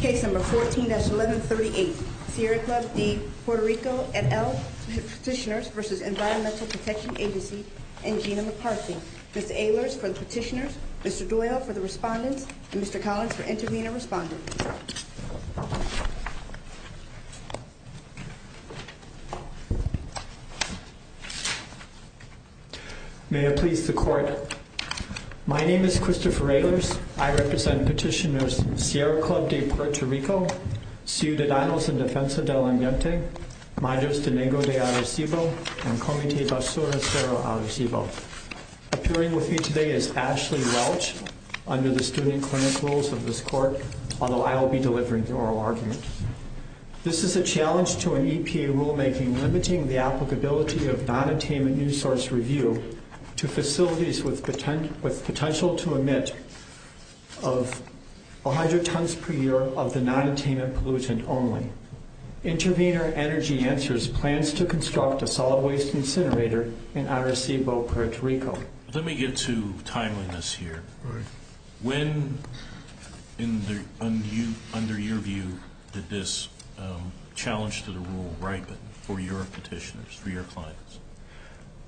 Case number 14-1138. Sierra Club de Puerto Rico et al. Petitioners v. Environmental Protection Agency and Genoma Parking. Mr. Ehlers for the petitioners, Mr. Doyle for the respondents, and Mr. Collins for intervening and responding. May it please the Court. My name is Christopher Ehlers. I represent petitioners Sierra Club de Puerto Rico, Ciudadanos en Defensa de la Humanidad, Majesdenego de Arecibo, and Comité de Asura Cerro Arecibo. Appearing with me today is Ashley Welch, under the student clinicals of this Court, although I will be delivering the oral argument. This is a challenge to an EPA rulemaking limiting the applicability of non-attainment new source review to facilities with potential to emit 100 tons per year of the non-attainment pollution only. Intervenor Energy Answers plans to construct a solid waste incinerator in Arecibo, Puerto Rico. Let me get to timeliness here. When, under your view, did this challenge to the rule ripen for your petitioners, for your clients?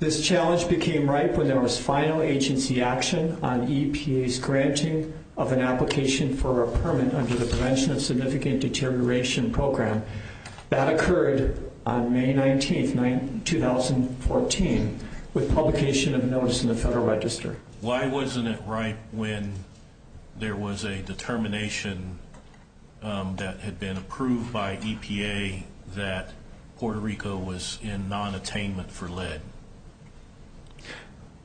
This challenge became ripe when there was final agency action on EPA's granting of an application for a permit under the Prevention of Significant Deterioration Program. That occurred on May 19, 2014, with publication of notice in the Federal Register. Why wasn't it ripe when there was a determination that had been approved by EPA that Puerto Rico was in non-attainment for lead?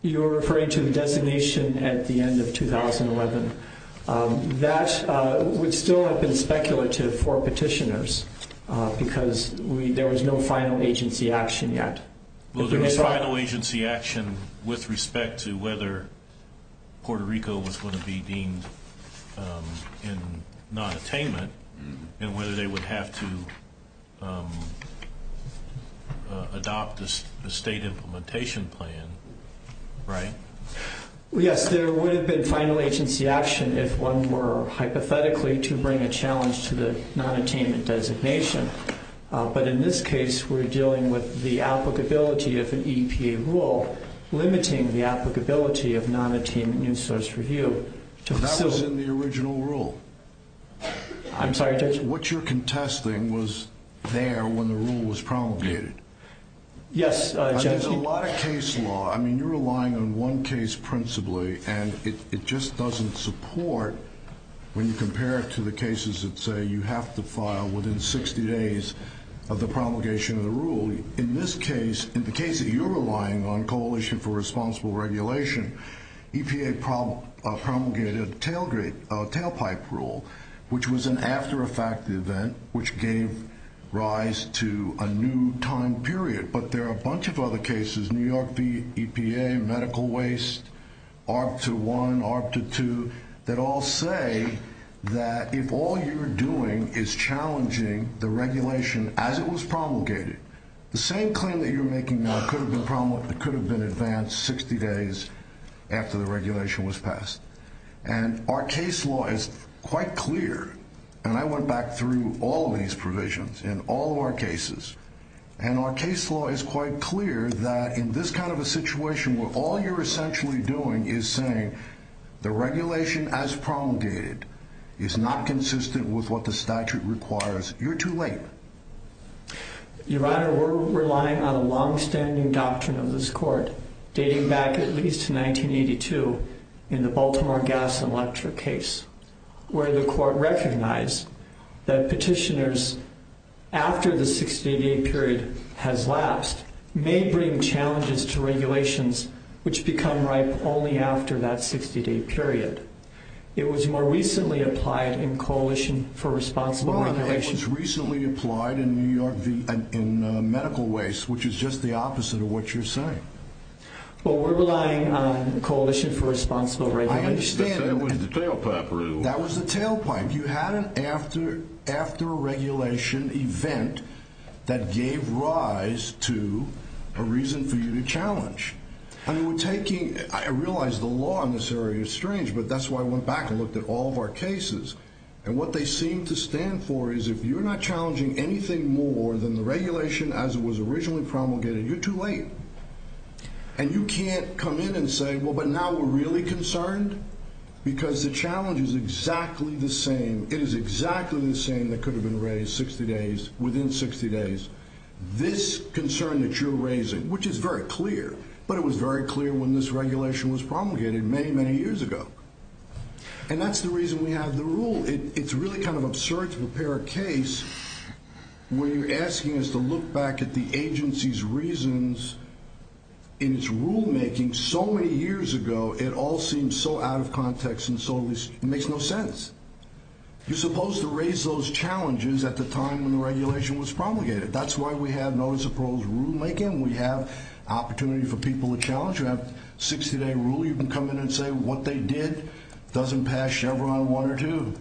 You're referring to the designation at the end of 2011. That would still have been speculative for petitioners, because there was no final agency action yet. There was final agency action with respect to whether Puerto Rico was going to be deemed in non-attainment and whether they would have to adopt a state implementation plan, right? Yes, there would have been final agency action if one were hypothetically to bring a challenge to the non-attainment designation. But in this case, we're dealing with the applicability of an EPA rule limiting the applicability of non-attainment news source review. That was in the original rule. I'm sorry, Judge? What you're contesting was there when the rule was promulgated. Yes, Judge. There's a lot of case law. I mean, you're relying on one case principally, and it just doesn't support when you compare it to the cases that say you have to file within 60 days of the promulgation of the rule. In this case, in the case that you're relying on, Coalition for Responsible Regulation, EPA promulgated a tailpipe rule, which was an after-effect event, which gave rise to a new time period. But there are a bunch of other cases, New York v. EPA, medical waste, ARB 2.1, ARB 2.2, that all say that if all you're doing is challenging the regulation as it was promulgated, the same claim that you're making now could have been advanced 60 days after the regulation was passed. And our case law is quite clear, and I went back through all these provisions in all of our cases. And our case law is quite clear that in this kind of a situation where all you're essentially doing is saying the regulation as promulgated is not consistent with what the statute requires, you're too late. Your Honor, we're relying on a longstanding doctrine of this Court, dating back at least to 1982 in the Baltimore gas and electric case, where the Court recognized that petitioners, after the 60-day period has lapsed, may bring challenges to regulations which become ripe only after that 60-day period. It was more recently applied in Coalition for Responsible Regulation. It was recently applied in New York v. Medical Waste, which is just the opposite of what you're saying. Well, we're relying on Coalition for Responsible Regulation. I understand. That was the tailpipe rule. That was the tailpipe. You had an after-regulation event that gave rise to a reason for you to challenge. I mean, we're taking – I realize the law in this area is strange, but that's why I went back and looked at all of our cases. And what they seem to stand for is if you're not challenging anything more than the regulation as it was originally promulgated, you're too late. And you can't come in and say, well, but now we're really concerned because the challenge is exactly the same. It is exactly the same that could have been raised 60 days – within 60 days. This concern that you're raising, which is very clear, but it was very clear when this regulation was promulgated many, many years ago. And that's the reason we have the rule. It's really kind of absurd to prepare a case where you're asking us to look back at the agency's reasons in its rulemaking so many years ago. It all seems so out of context and so – it makes no sense. You're supposed to raise those challenges at the time when the regulation was promulgated. That's why we have notice of parole's rulemaking. We have opportunity for people to challenge. You have a 60-day rule. You can come in and say what they did. It doesn't pass Chevron one or two.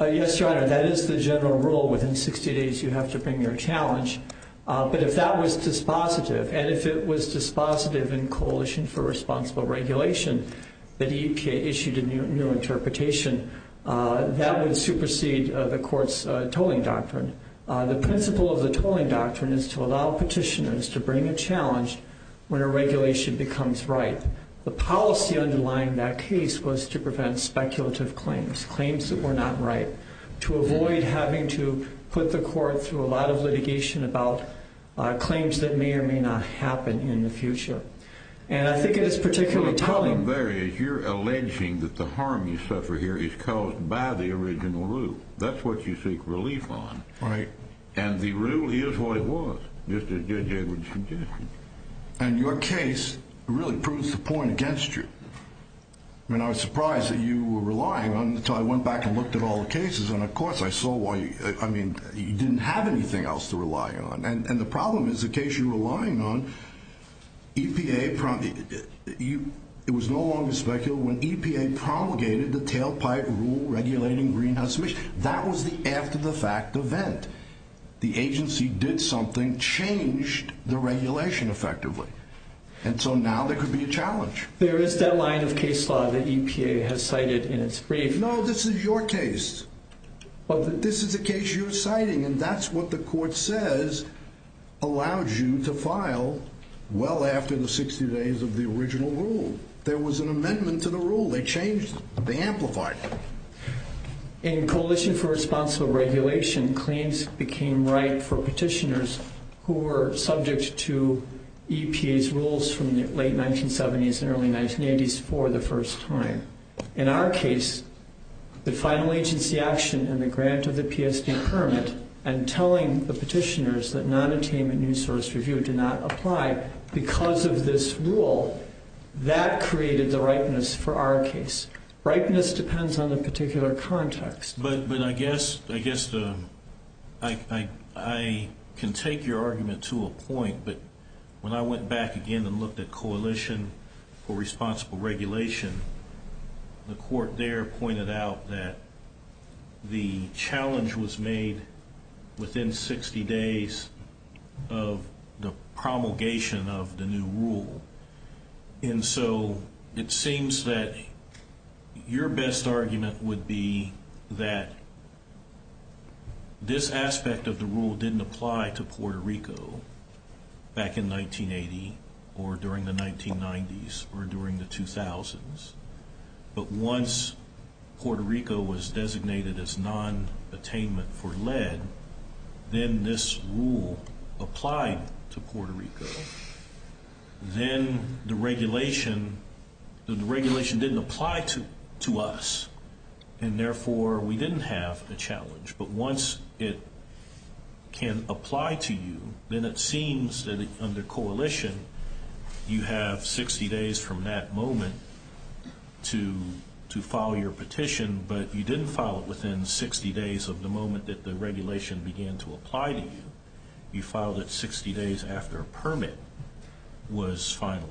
Yes, Your Honor, that is the general rule. Within 60 days, you have to bring your challenge. But if that was dispositive and if it was dispositive in Coalition for Responsible Regulation that EPA issued a new interpretation, that would supersede the court's tolling doctrine. The principle of the tolling doctrine is to allow petitioners to bring a challenge when a regulation becomes right. The policy underlying that case was to prevent speculative claims, claims that were not right, to avoid having to put the court through a lot of litigation about claims that may or may not happen in the future. And I think it is particularly telling – The problem there is you're alleging that the harm you suffer here is caused by the original rule. That's what you seek relief on. Right. And the rule is what it was, just as Judge Edwards suggested. And your case really proves the point against you. I mean, I was surprised that you were relying on it until I went back and looked at all the cases. And, of course, I saw why you – I mean, you didn't have anything else to rely on. And the problem is the case you're relying on, EPA – it was no longer speculative when EPA promulgated the tailpipe rule regulating greenhouse emissions. That was the after-the-fact event. The agency did something, changed the regulation effectively. And so now there could be a challenge. There is that line of case law that EPA has cited in its brief. No, this is your case. This is a case you're citing, and that's what the court says allowed you to file well after the 60 days of the original rule. There was an amendment to the rule. They changed it. They amplified it. In Coalition for Responsible Regulation, claims became ripe for petitioners who were subject to EPA's rules from the late 1970s and early 1980s for the first time. In our case, the final agency action and the grant of the PSD permit and telling the petitioners that nonattainment news source review did not apply because of this rule, that created the ripeness for our case. Ripeness depends on the particular context. But I guess I can take your argument to a point. But when I went back again and looked at Coalition for Responsible Regulation, the court there pointed out that the challenge was made within 60 days of the promulgation of the new rule. And so it seems that your best argument would be that this aspect of the rule didn't apply to Puerto Rico back in 1980 or during the 1990s or during the 2000s. But once Puerto Rico was designated as nonattainment for lead, then this rule applied to Puerto Rico. Then the regulation didn't apply to us. And therefore, we didn't have a challenge. But once it can apply to you, then it seems that under coalition, you have 60 days from that moment to file your petition. But you didn't file it within 60 days of the moment that the regulation began to apply to you. You filed it 60 days after a permit was finalized.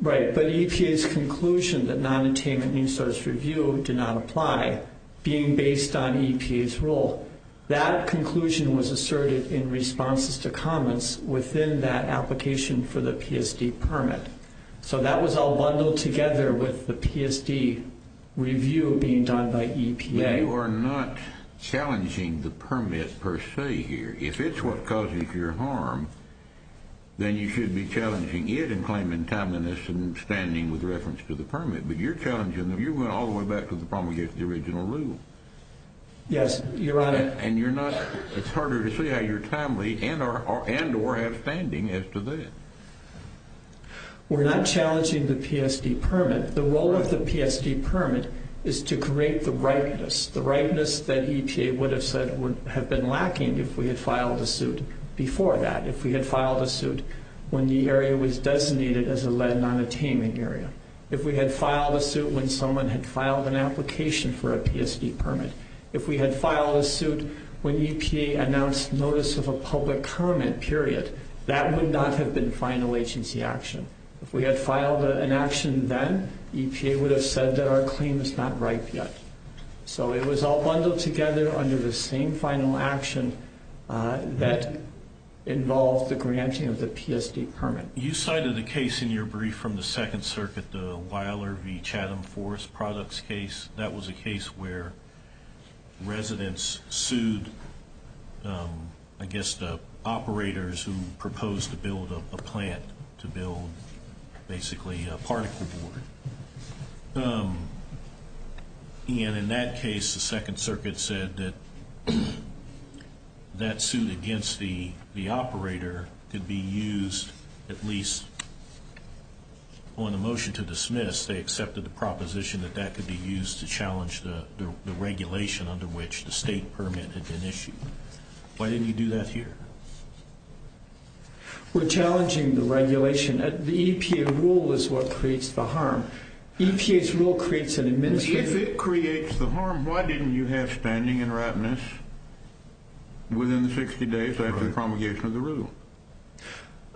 Right. But EPA's conclusion that nonattainment new source review did not apply, being based on EPA's rule, that conclusion was asserted in responses to comments within that application for the PSD permit. So that was all bundled together with the PSD review being done by EPA. You are not challenging the permit per se here. If it's what causes your harm, then you should be challenging it and claiming timeliness and standing with reference to the permit. But you're challenging them. You're going all the way back to the problem against the original rule. Yes, Your Honor. And you're not – it's harder to see how you're timely and or have standing as to that. We're not challenging the PSD permit. The role of the PSD permit is to create the ripeness. The ripeness that EPA would have said would have been lacking if we had filed a suit before that, if we had filed a suit when the area was designated as a led nonattainment area. If we had filed a suit when someone had filed an application for a PSD permit, if we had filed a suit when EPA announced notice of a public comment, period, that would not have been final agency action. If we had filed an action then, EPA would have said that our claim is not ripe yet. So it was all bundled together under the same final action that involved the granting of the PSD permit. You cited a case in your brief from the Second Circuit, the Weiler v. Chatham Forest Products case. That was a case where residents sued, I guess, the operators who proposed to build a plant to build basically a particle board. And in that case, the Second Circuit said that that suit against the operator could be used at least on a motion to dismiss. They accepted the proposition that that could be used to challenge the regulation under which the state permit had been issued. Why didn't you do that here? We're challenging the regulation. The EPA rule is what creates the harm. EPA's rule creates an administrative... If it creates the harm, why didn't you have standing and ripeness within the 60 days after the promulgation of the rule?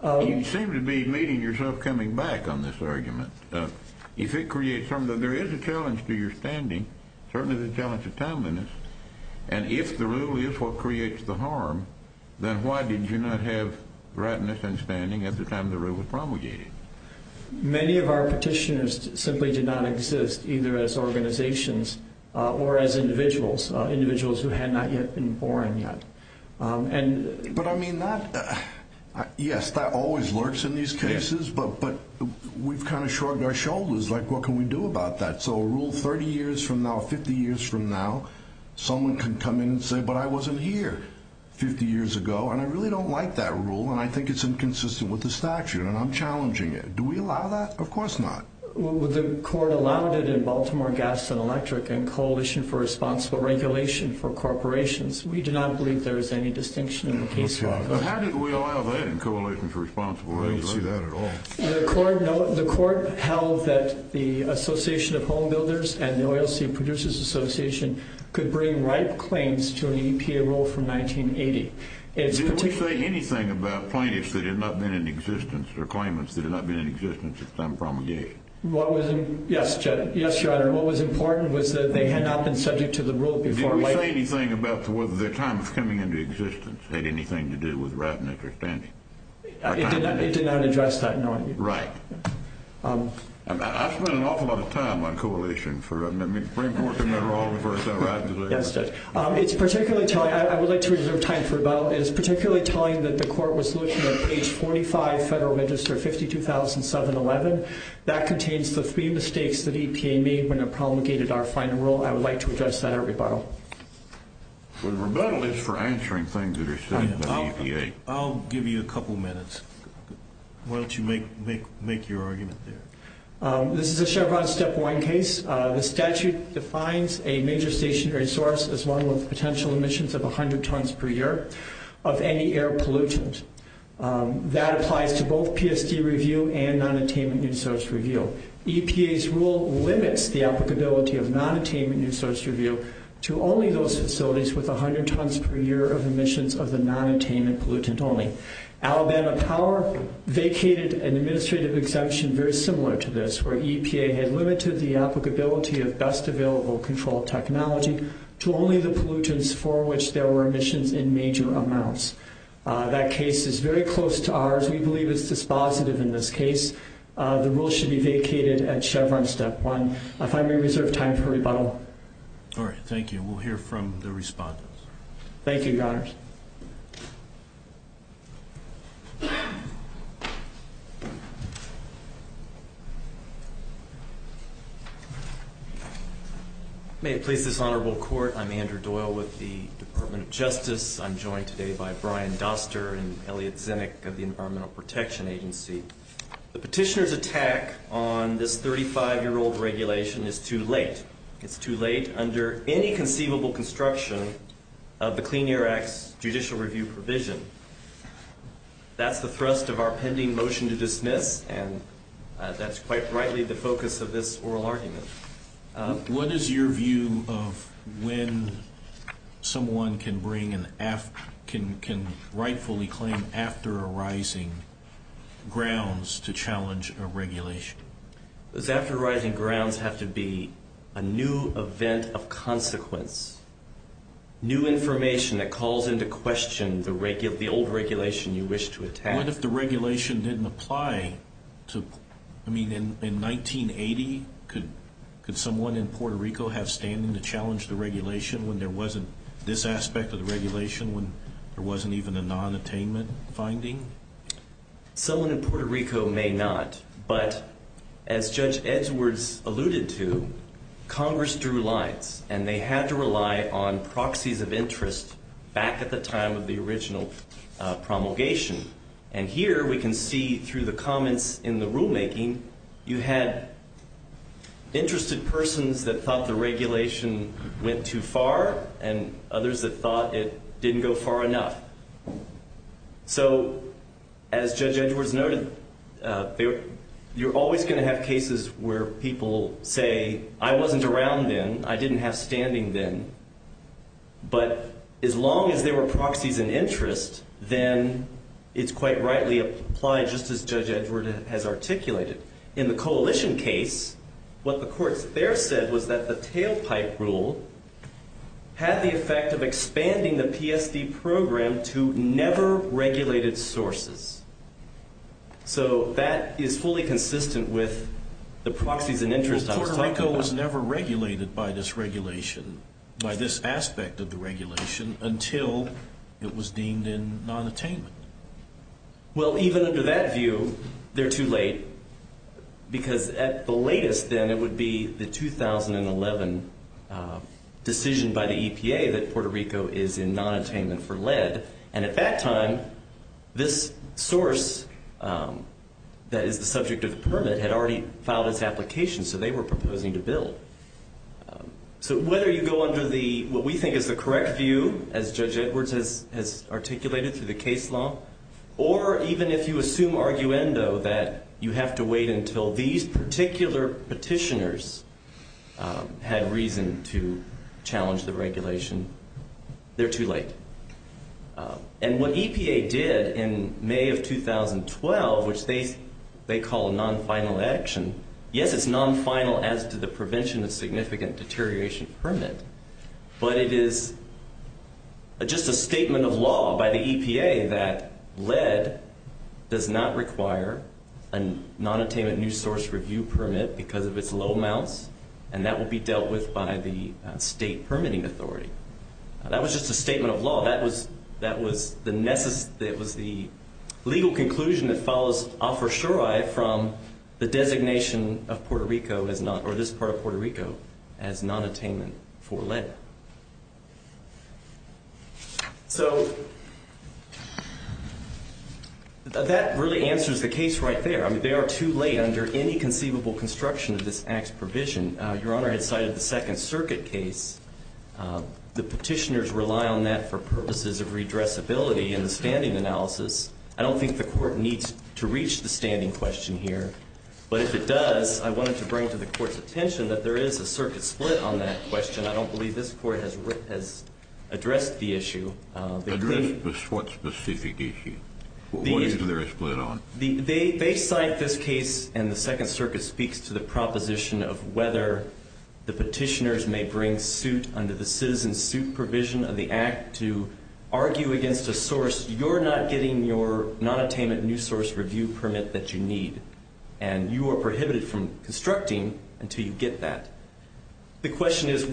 You seem to be meeting yourself coming back on this argument. If it creates harm, then there is a challenge to your standing, certainly the challenge of timeliness. And if the rule is what creates the harm, then why did you not have ripeness and standing at the time the rule was promulgated? Many of our petitioners simply did not exist either as organizations or as individuals, individuals who had not yet been born yet. But I mean, yes, that always lurks in these cases, but we've kind of shrugged our shoulders. Like, what can we do about that? So a rule 30 years from now, 50 years from now, someone can come in and say, but I wasn't here 50 years ago, and I really don't like that rule, and I think it's inconsistent with the statute, and I'm challenging it. Do we allow that? Of course not. The court allowed it in Baltimore Gas and Electric and Coalition for Responsible Regulation for Corporations. We do not believe there is any distinction in the case law. But how did we allow that in Coalition for Responsible Regulation? We didn't see that at all. The court held that the Association of Homebuilders and the Oilseed Producers Association could bring ripe claims to an EPA rule from 1980. Did we say anything about plaintiffs that had not been in existence or claimants that had not been in existence at the time of promulgation? Yes, Judge. Yes, Your Honor. What was important was that they had not been subject to the rule before. Did we say anything about whether their time of coming into existence had anything to do with right and understanding? It did not address that, no. Right. I've spent an awful lot of time on Coalition for, I mean, it's very important to remember all the verses I write. Yes, Judge. I would like to reserve time for rebuttal. It is particularly telling that the court was looking at page 45, Federal Register 52711. That contains the three mistakes that EPA made when it promulgated our final rule. I would like to address that at rebuttal. The rebuttal is for answering things that are said by the EPA. I'll give you a couple minutes. Why don't you make your argument there? This is a Chevron Step 1 case. The statute defines a major stationary source as one with potential emissions of 100 tons per year of any air pollutant. That applies to both PSD review and nonattainment resource review. EPA's rule limits the applicability of nonattainment resource review to only those facilities with 100 tons per year of emissions of the nonattainment pollutant only. Alabama Power vacated an administrative exemption very similar to this, where EPA had limited the applicability of best available control technology to only the pollutants for which there were emissions in major amounts. That case is very close to ours. We believe it's dispositive in this case. The rule should be vacated at Chevron Step 1. If I may reserve time for rebuttal. All right, thank you. We'll hear from the respondents. Thank you, Your Honors. May it please this honorable court, I'm Andrew Doyle with the Department of Justice. I'm joined today by Brian Doster and Elliot Zinnick of the Environmental Protection Agency. The petitioner's attack on this 35-year-old regulation is too late. It's too late under any conceivable construction of the Clean Air Act's judicial review provision. That's the thrust of our pending motion to dismiss, and that's quite rightly the focus of this oral argument. What is your view of when someone can rightfully claim after arising grounds to challenge a regulation? Does after arising grounds have to be a new event of consequence, new information that calls into question the old regulation you wish to attack? What if the regulation didn't apply? I mean, in 1980, could someone in Puerto Rico have standing to challenge the regulation when there wasn't this aspect of the regulation, when there wasn't even a non-attainment finding? Someone in Puerto Rico may not, but as Judge Edwards alluded to, Congress drew lines, and they had to rely on proxies of interest back at the time of the original promulgation. And here we can see through the comments in the rulemaking you had interested persons that thought the regulation went too far and others that thought it didn't go far enough. So as Judge Edwards noted, you're always going to have cases where people say, I wasn't around then, I didn't have standing then, but as long as there were proxies in interest, then it's quite rightly applied just as Judge Edwards has articulated. In the coalition case, what the courts there said was that the tailpipe rule had the effect of expanding the PSD program to never-regulated sources. So that is fully consistent with the proxies and interest I was talking about. Well, Puerto Rico was never regulated by this regulation, by this aspect of the regulation, until it was deemed in non-attainment. Well, even under that view, they're too late, because at the latest then it would be the 2011 decision by the EPA that Puerto Rico is in non-attainment for lead. And at that time, this source that is the subject of the permit had already filed its application, so they were proposing to build. So whether you go under what we think is the correct view, as Judge Edwards has articulated through the case law, or even if you assume arguendo that you have to wait until these particular petitioners had reason to challenge the regulation, they're too late. And what EPA did in May of 2012, which they call a non-final action, yes, it's non-final as to the prevention of significant deterioration permit, but it is just a statement of law by the EPA that lead does not require a non-attainment new source review permit because of its low amounts, and that will be dealt with by the state permitting authority. That was just a statement of law. That was the legal conclusion that follows a for sure from the designation of Puerto Rico as not or this part of Puerto Rico as non-attainment for lead. So that really answers the case right there. I mean, they are too late under any conceivable construction of this Act's provision. Your Honor, I cited the Second Circuit case. The petitioners rely on that for purposes of redressability in the standing analysis. I don't think the court needs to reach the standing question here. But if it does, I wanted to bring to the court's attention that there is a circuit split on that question. I don't believe this court has addressed the issue. Addressed what specific issue? What is there a split on? They cite this case, and the Second Circuit speaks to the proposition of whether the petitioners may bring suit under the citizen suit provision of the Act to argue against a source you're not getting your non-attainment new source review permit that you need, and you are prohibited from constructing until you get that. The question is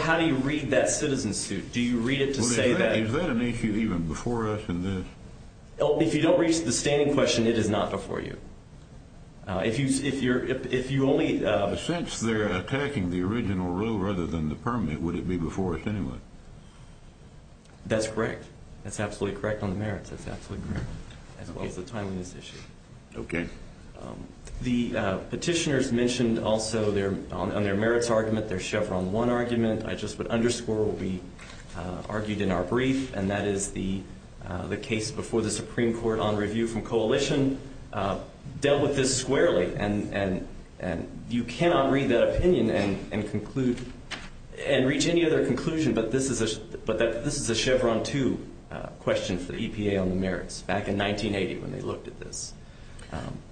how do you read that citizen suit? Do you read it to say that? Is that an issue even before us in this? If you don't reach the standing question, it is not before you. If you only... But since they're attacking the original rule rather than the permit, would it be before us anyway? That's correct. That's absolutely correct on the merits. That's absolutely correct, as well as the timeliness issue. Okay. The petitioners mentioned also on their merits argument their Chevron 1 argument. I just would underscore what we argued in our brief, and that is the case before the Supreme Court on review from coalition dealt with this squarely. And you cannot read that opinion and conclude and reach any other conclusion, but this is a Chevron 2 question for the EPA on the merits back in 1980 when they looked at this.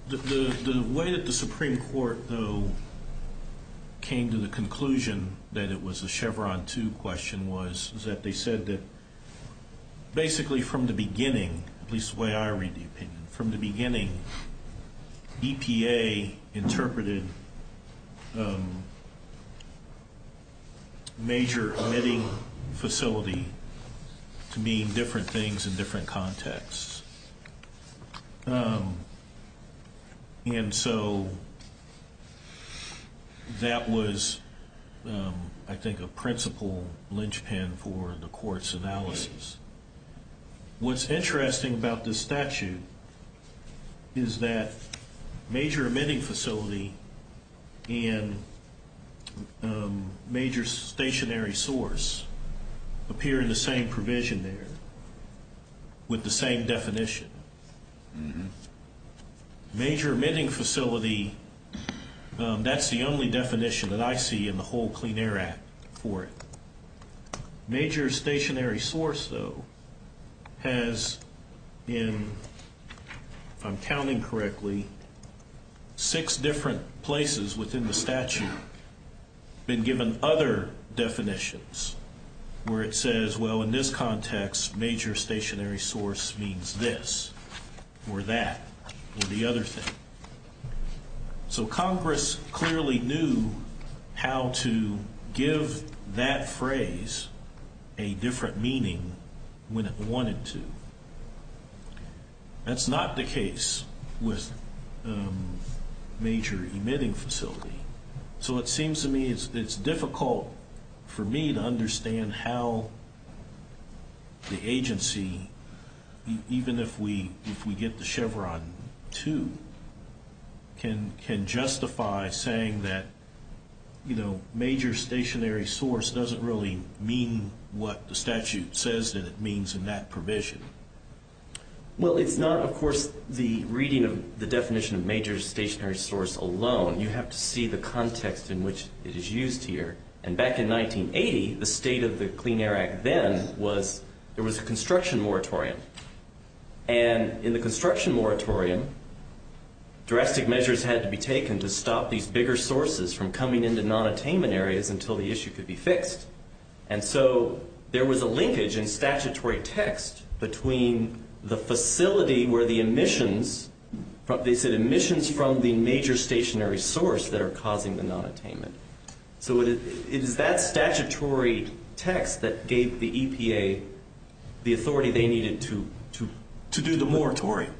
The way that the Supreme Court, though, came to the conclusion that it was a Chevron 2 question was that they said that basically from the beginning, at least the way I read the opinion, from the beginning, EPA interpreted major emitting facility to mean different things in different contexts. And so that was, I think, a principal linchpin for the court's analysis. What's interesting about this statute is that major emitting facility and major stationary source appear in the same provision there with the same definition. Major emitting facility, that's the only definition that I see in the whole Clean Air Act for it. Major stationary source, though, has in, if I'm counting correctly, six different places within the statute been given other definitions where it says, well, in this context, major stationary source means this or that or the other thing. So Congress clearly knew how to give that phrase a different meaning when it wanted to. That's not the case with major emitting facility. So it seems to me it's difficult for me to understand how the agency, even if we get the Chevron 2, can justify saying that major stationary source doesn't really mean what the statute says that it means in that provision. Well, it's not, of course, the reading of the definition of major stationary source alone. You have to see the context in which it is used here. And back in 1980, the state of the Clean Air Act then was there was a construction moratorium. And in the construction moratorium, drastic measures had to be taken to stop these bigger sources from coming into nonattainment areas until the issue could be fixed. And so there was a linkage in statutory text between the facility where the emissions, they said emissions from the major stationary source that are causing the nonattainment. So it is that statutory text that gave the EPA the authority they needed to do the moratorium,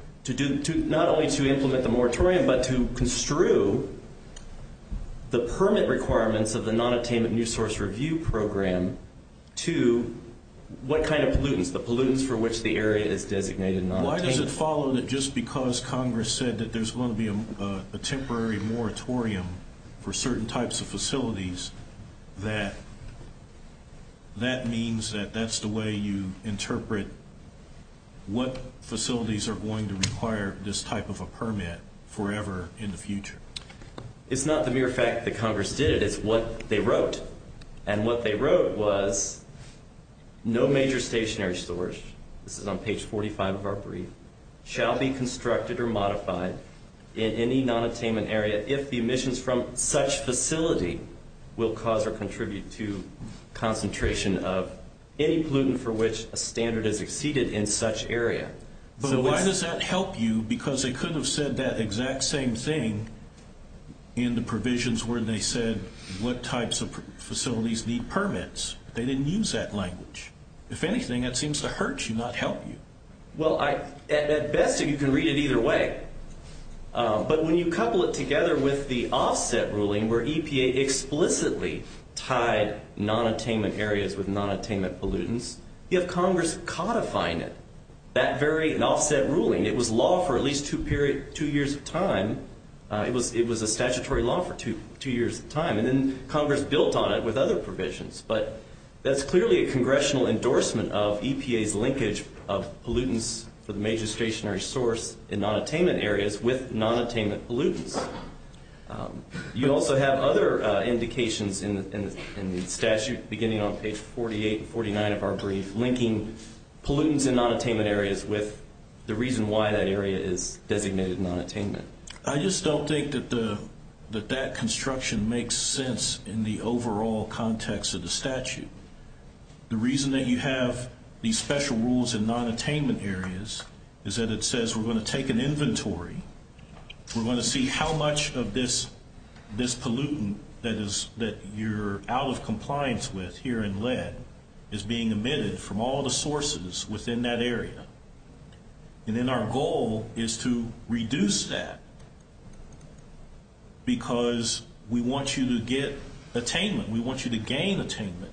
not only to implement the moratorium, but to construe the permit requirements of the nonattainment new source review program to what kind of pollutants, the pollutants for which the area is designated nonattainment. Why does it follow that just because Congress said that there's going to be a temporary moratorium for certain types of facilities that that means that that's the way you interpret what facilities are going to require this type of a permit forever in the future? It's not the mere fact that Congress did it. It's what they wrote. And what they wrote was no major stationary source. This is on page 45 of our brief, shall be constructed or modified in any nonattainment area if the emissions from such facility will cause or contribute to concentration of any pollutant for which a standard is exceeded in such area. But why does that help you? Because they could have said that exact same thing in the provisions where they said what types of facilities need permits. They didn't use that language. If anything, that seems to hurt you, not help you. Well, at best, you can read it either way. But when you couple it together with the offset ruling where EPA explicitly tied nonattainment areas with nonattainment pollutants, you have Congress codifying it, that very offset ruling. It was law for at least two years of time. It was a statutory law for two years of time. And then Congress built on it with other provisions. But that's clearly a congressional endorsement of EPA's linkage of pollutants for the major stationary source in nonattainment areas with nonattainment pollutants. You also have other indications in the statute beginning on page 48 and 49 of our brief, linking pollutants in nonattainment areas with the reason why that area is designated nonattainment. I just don't think that that construction makes sense in the overall context of the statute. The reason that you have these special rules in nonattainment areas is that it says we're going to take an inventory. We're going to see how much of this pollutant that you're out of compliance with here in lead is being emitted from all the sources within that area. And then our goal is to reduce that because we want you to get attainment. We want you to gain attainment.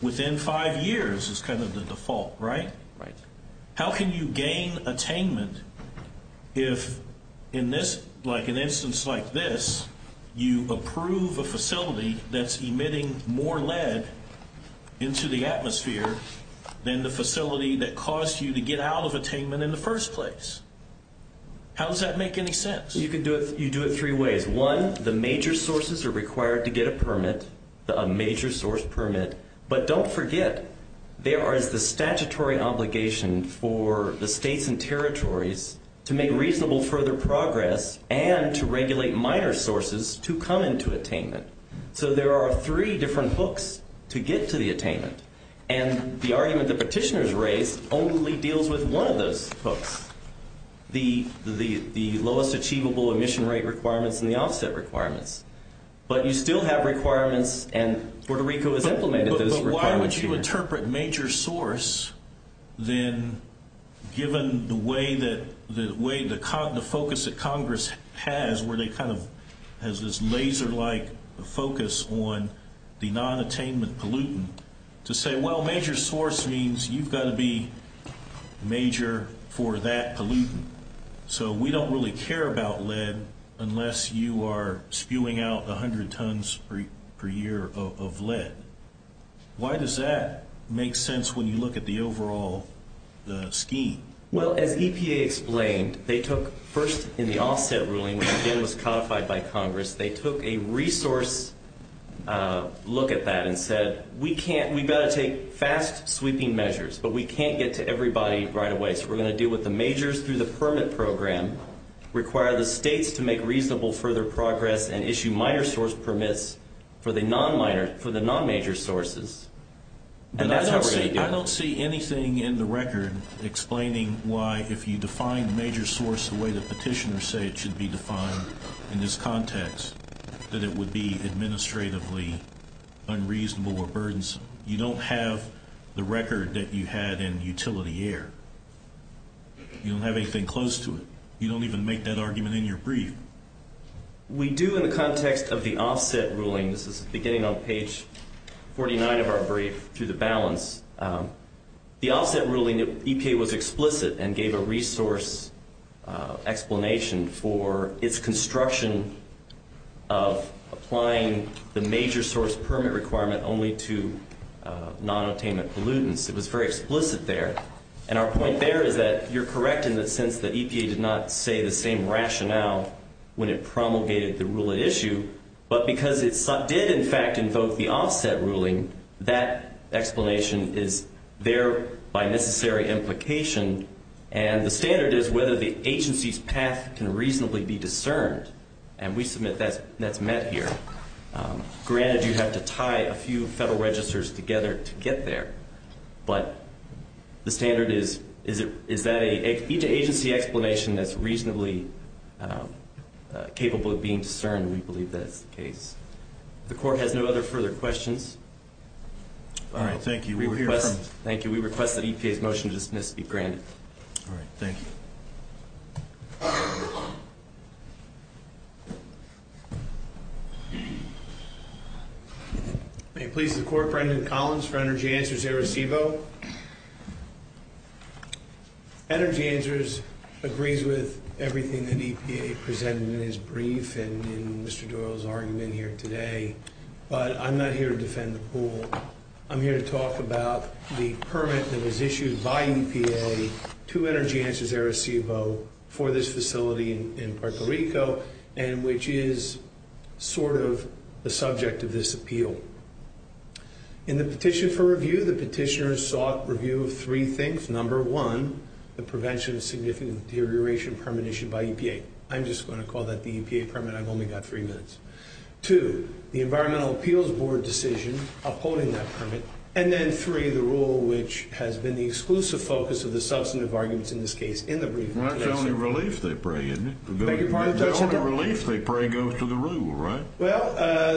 Within five years is kind of the default, right? Right. How can you gain attainment if, in an instance like this, you approve a facility that's emitting more lead into the atmosphere than the facility that caused you to get out of attainment in the first place? How does that make any sense? You do it three ways. One, the major sources are required to get a permit, a major source permit. But don't forget there is the statutory obligation for the states and territories to make reasonable further progress and to regulate minor sources to come into attainment. So there are three different hooks to get to the attainment. And the argument the petitioners raised only deals with one of those hooks, the lowest achievable emission rate requirements and the offset requirements. But you still have requirements, and Puerto Rico has implemented those requirements here. But why would you interpret major source, then, given the focus that Congress has, where they kind of have this laser-like focus on the non-attainment pollutant, to say, well, major source means you've got to be major for that pollutant. So we don't really care about lead unless you are spewing out 100 tons per year of lead. Why does that make sense when you look at the overall scheme? Well, as EPA explained, they took first in the offset ruling, which again was codified by Congress, they took a resource look at that and said, we've got to take fast-sweeping measures, but we can't get to everybody right away. In this case, we're going to deal with the majors through the permit program, require the states to make reasonable further progress, and issue minor source permits for the non-major sources. And that's how we're going to do it. I don't see anything in the record explaining why, if you define major source the way the petitioners say it should be defined in this context, that it would be administratively unreasonable or burdensome. You don't have the record that you had in utility air. You don't have anything close to it. You don't even make that argument in your brief. We do in the context of the offset ruling. This is beginning on page 49 of our brief, through the balance. The offset ruling, EPA was explicit and gave a resource explanation for its construction of applying the major source permit requirement only to non-obtainment pollutants. It was very explicit there. And our point there is that you're correct in the sense that EPA did not say the same rationale when it promulgated the rule at issue, but because it did, in fact, invoke the offset ruling, that explanation is there by necessary implication, and the standard is whether the agency's path can reasonably be discerned. And we submit that's met here. Granted, you have to tie a few federal registers together to get there, but the standard is that each agency explanation is reasonably capable of being discerned. We believe that's the case. If the Court has no other further questions. All right, thank you. Thank you. We request that EPA's motion to dismiss be granted. All right, thank you. Thank you. May it please the Court, Brendan Collins for Energy Answers, Arecibo. Energy Answers agrees with everything that EPA presented in its brief and in Mr. Doyle's argument here today, but I'm not here to defend the pool. I'm here to talk about the permit that was issued by EPA to Energy Answers, Arecibo, for this facility in Puerto Rico, and which is sort of the subject of this appeal. In the petition for review, the petitioners sought review of three things. Number one, the prevention of significant deterioration permit issued by EPA. I'm just going to call that the EPA permit. I've only got three minutes. Two, the Environmental Appeals Board decision upholding that permit. And then three, the rule which has been the exclusive focus of the substantive arguments in this case in the brief. That's the only relief they pray, isn't it? The only relief they pray goes to the rule, right? Well,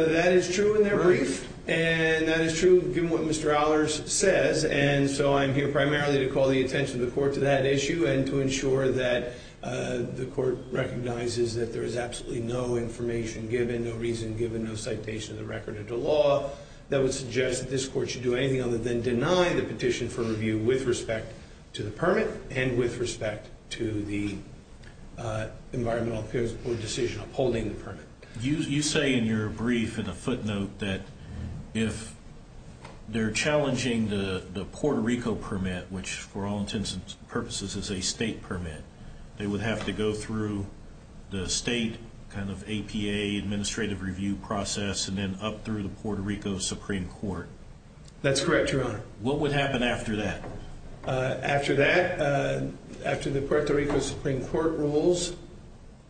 that is true in their brief, and that is true given what Mr. Ollers says, and so I'm here primarily to call the attention of the Court to that issue and to ensure that the Court recognizes that there is absolutely no information given, no reason given, no citation of the record into law, that would suggest that this Court should do anything other than deny the petition for review with respect to the permit and with respect to the Environmental Appeals Board decision upholding the permit. You say in your brief in a footnote that if they're challenging the Puerto Rico permit, which for all intents and purposes is a state permit, they would have to go through the state kind of APA administrative review process and then up through the Puerto Rico Supreme Court. That's correct, Your Honor. What would happen after that? After that, after the Puerto Rico Supreme Court rules,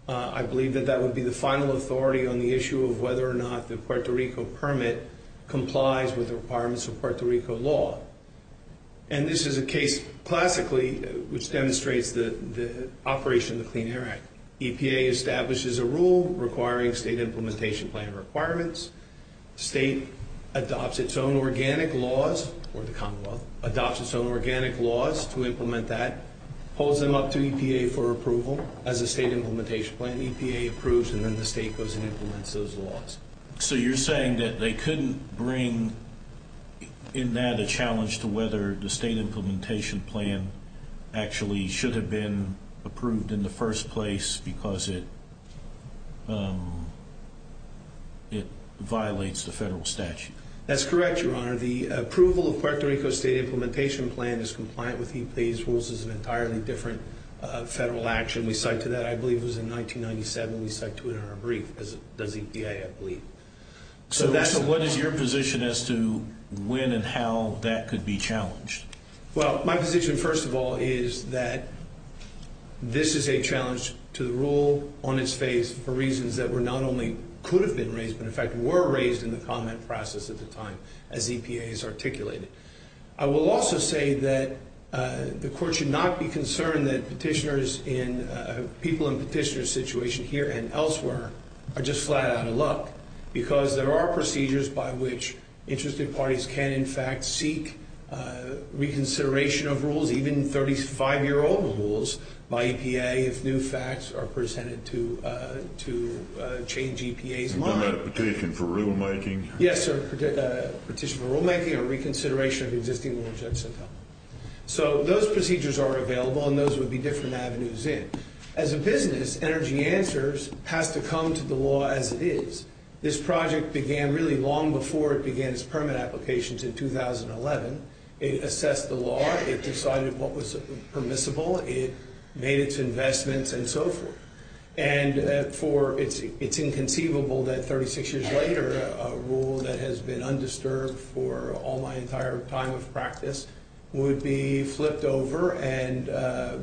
I believe that that would be the final authority on the issue of whether or not the Puerto Rico permit complies with the requirements of Puerto Rico law. And this is a case classically which demonstrates the operation of the Clean Air Act. EPA establishes a rule requiring state implementation plan requirements. The state adopts its own organic laws, or the Commonwealth adopts its own organic laws to implement that, pulls them up to EPA for approval as a state implementation plan. EPA approves and then the state goes and implements those laws. So you're saying that they couldn't bring in that a challenge to whether the state implementation plan actually should have been approved in the first place because it violates the federal statute. That's correct, Your Honor. The approval of Puerto Rico's state implementation plan is compliant with EPA's rules. It's an entirely different federal action. We cite to that, I believe it was in 1997, we cite to it in our brief, because it does EPA, I believe. So what is your position as to when and how that could be challenged? Well, my position, first of all, is that this is a challenge to the rule on its face for reasons that were not only could have been raised but, in fact, were raised in the comment process at the time as EPA has articulated. I will also say that the court should not be concerned that people in petitioner's situation here and elsewhere are just flat out of luck because there are procedures by which interested parties can, in fact, seek reconsideration of rules, even 35-year-old rules by EPA if new facts are presented to change EPA's mind. Is that a petition for rulemaking? Yes, sir, a petition for rulemaking or reconsideration of existing rules. So those procedures are available and those would be different avenues in. As a business, Energy Answers has to come to the law as it is. This project began really long before it began its permit applications in 2011. It assessed the law. It decided what was permissible. It made its investments and so forth. And it's inconceivable that 36 years later a rule that has been undisturbed for all my entire time of practice would be flipped over and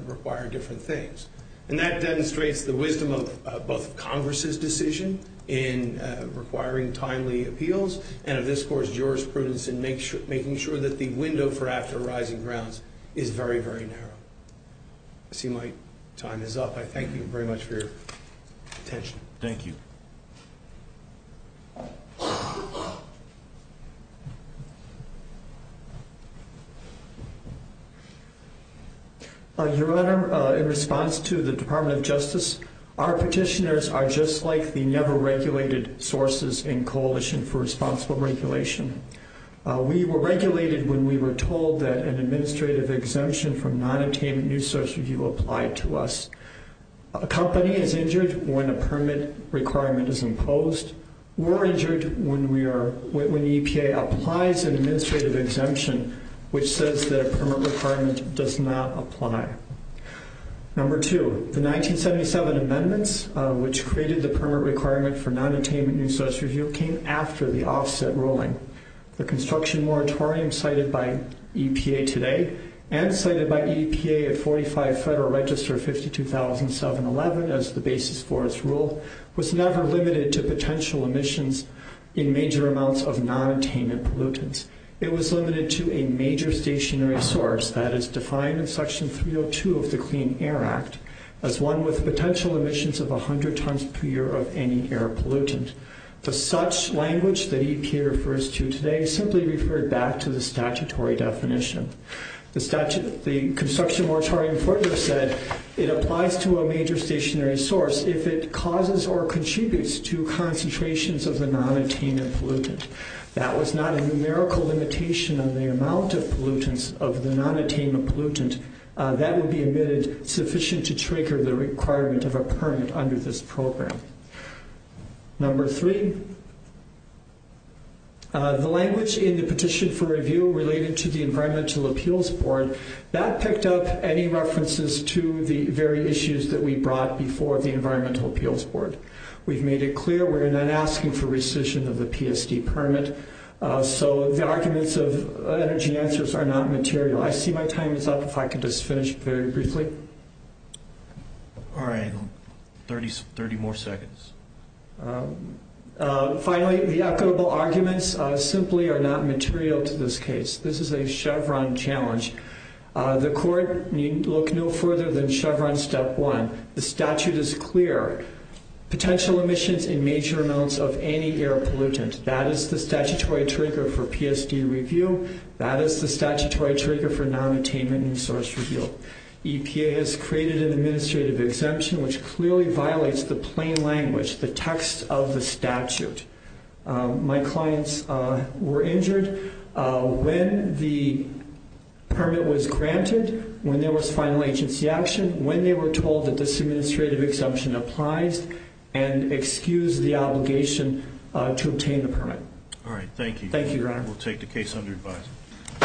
require different things. And that demonstrates the wisdom of both Congress's decision in requiring timely appeals and of this court's jurisprudence in making sure that the window for after rising grounds is very, very narrow. I see my time is up. I thank you very much for your attention. Thank you. Your Honor, in response to the Department of Justice, our petitioners are just like the never-regulated sources in Coalition for Responsible Regulation. We were regulated when we were told that an administrative exemption from nonattainment new social view applied to us. A company is injured when a permit requirement is imposed. We're injured when the EPA applies an administrative exemption, which says that a permit requirement does not apply. Number two, the 1977 amendments, which created the permit requirement for nonattainment new social view, came after the offset ruling. The construction moratorium cited by EPA today and cited by EPA at 45 Federal Register 52,711 as the basis for its rule, was never limited to potential emissions in major amounts of nonattainment pollutants. It was limited to a major stationary source that is defined in Section 302 of the Clean Air Act as one with potential emissions of 100 tons per year of any air pollutant. The such language that EPA refers to today simply referred back to the statutory definition. The construction moratorium further said it applies to a major stationary source if it causes or contributes to concentrations of the nonattainment pollutant. That was not a numerical limitation on the amount of pollutants of the nonattainment pollutant. That would be admitted sufficient to trigger the requirement of a permit under this program. Number three, the language in the petition for review related to the Environmental Appeals Board, that picked up any references to the very issues that we brought before the Environmental Appeals Board. We've made it clear we're not asking for rescission of the PSD permit, so the arguments of energy answers are not material. I see my time is up. If I could just finish very briefly. All right, 30 more seconds. Finally, the equitable arguments simply are not material to this case. This is a Chevron challenge. The court need look no further than Chevron step one. The statute is clear. Potential emissions in major amounts of any air pollutant. That is the statutory trigger for PSD review. That is the statutory trigger for nonattainment and source review. EPA has created an administrative exemption which clearly violates the plain language, the text of the statute. My clients were injured when the permit was granted, when there was final agency action, when they were told that this administrative exemption applies and excused the obligation to obtain the permit. All right, thank you. Thank you, Your Honor. We'll take the case under advisory.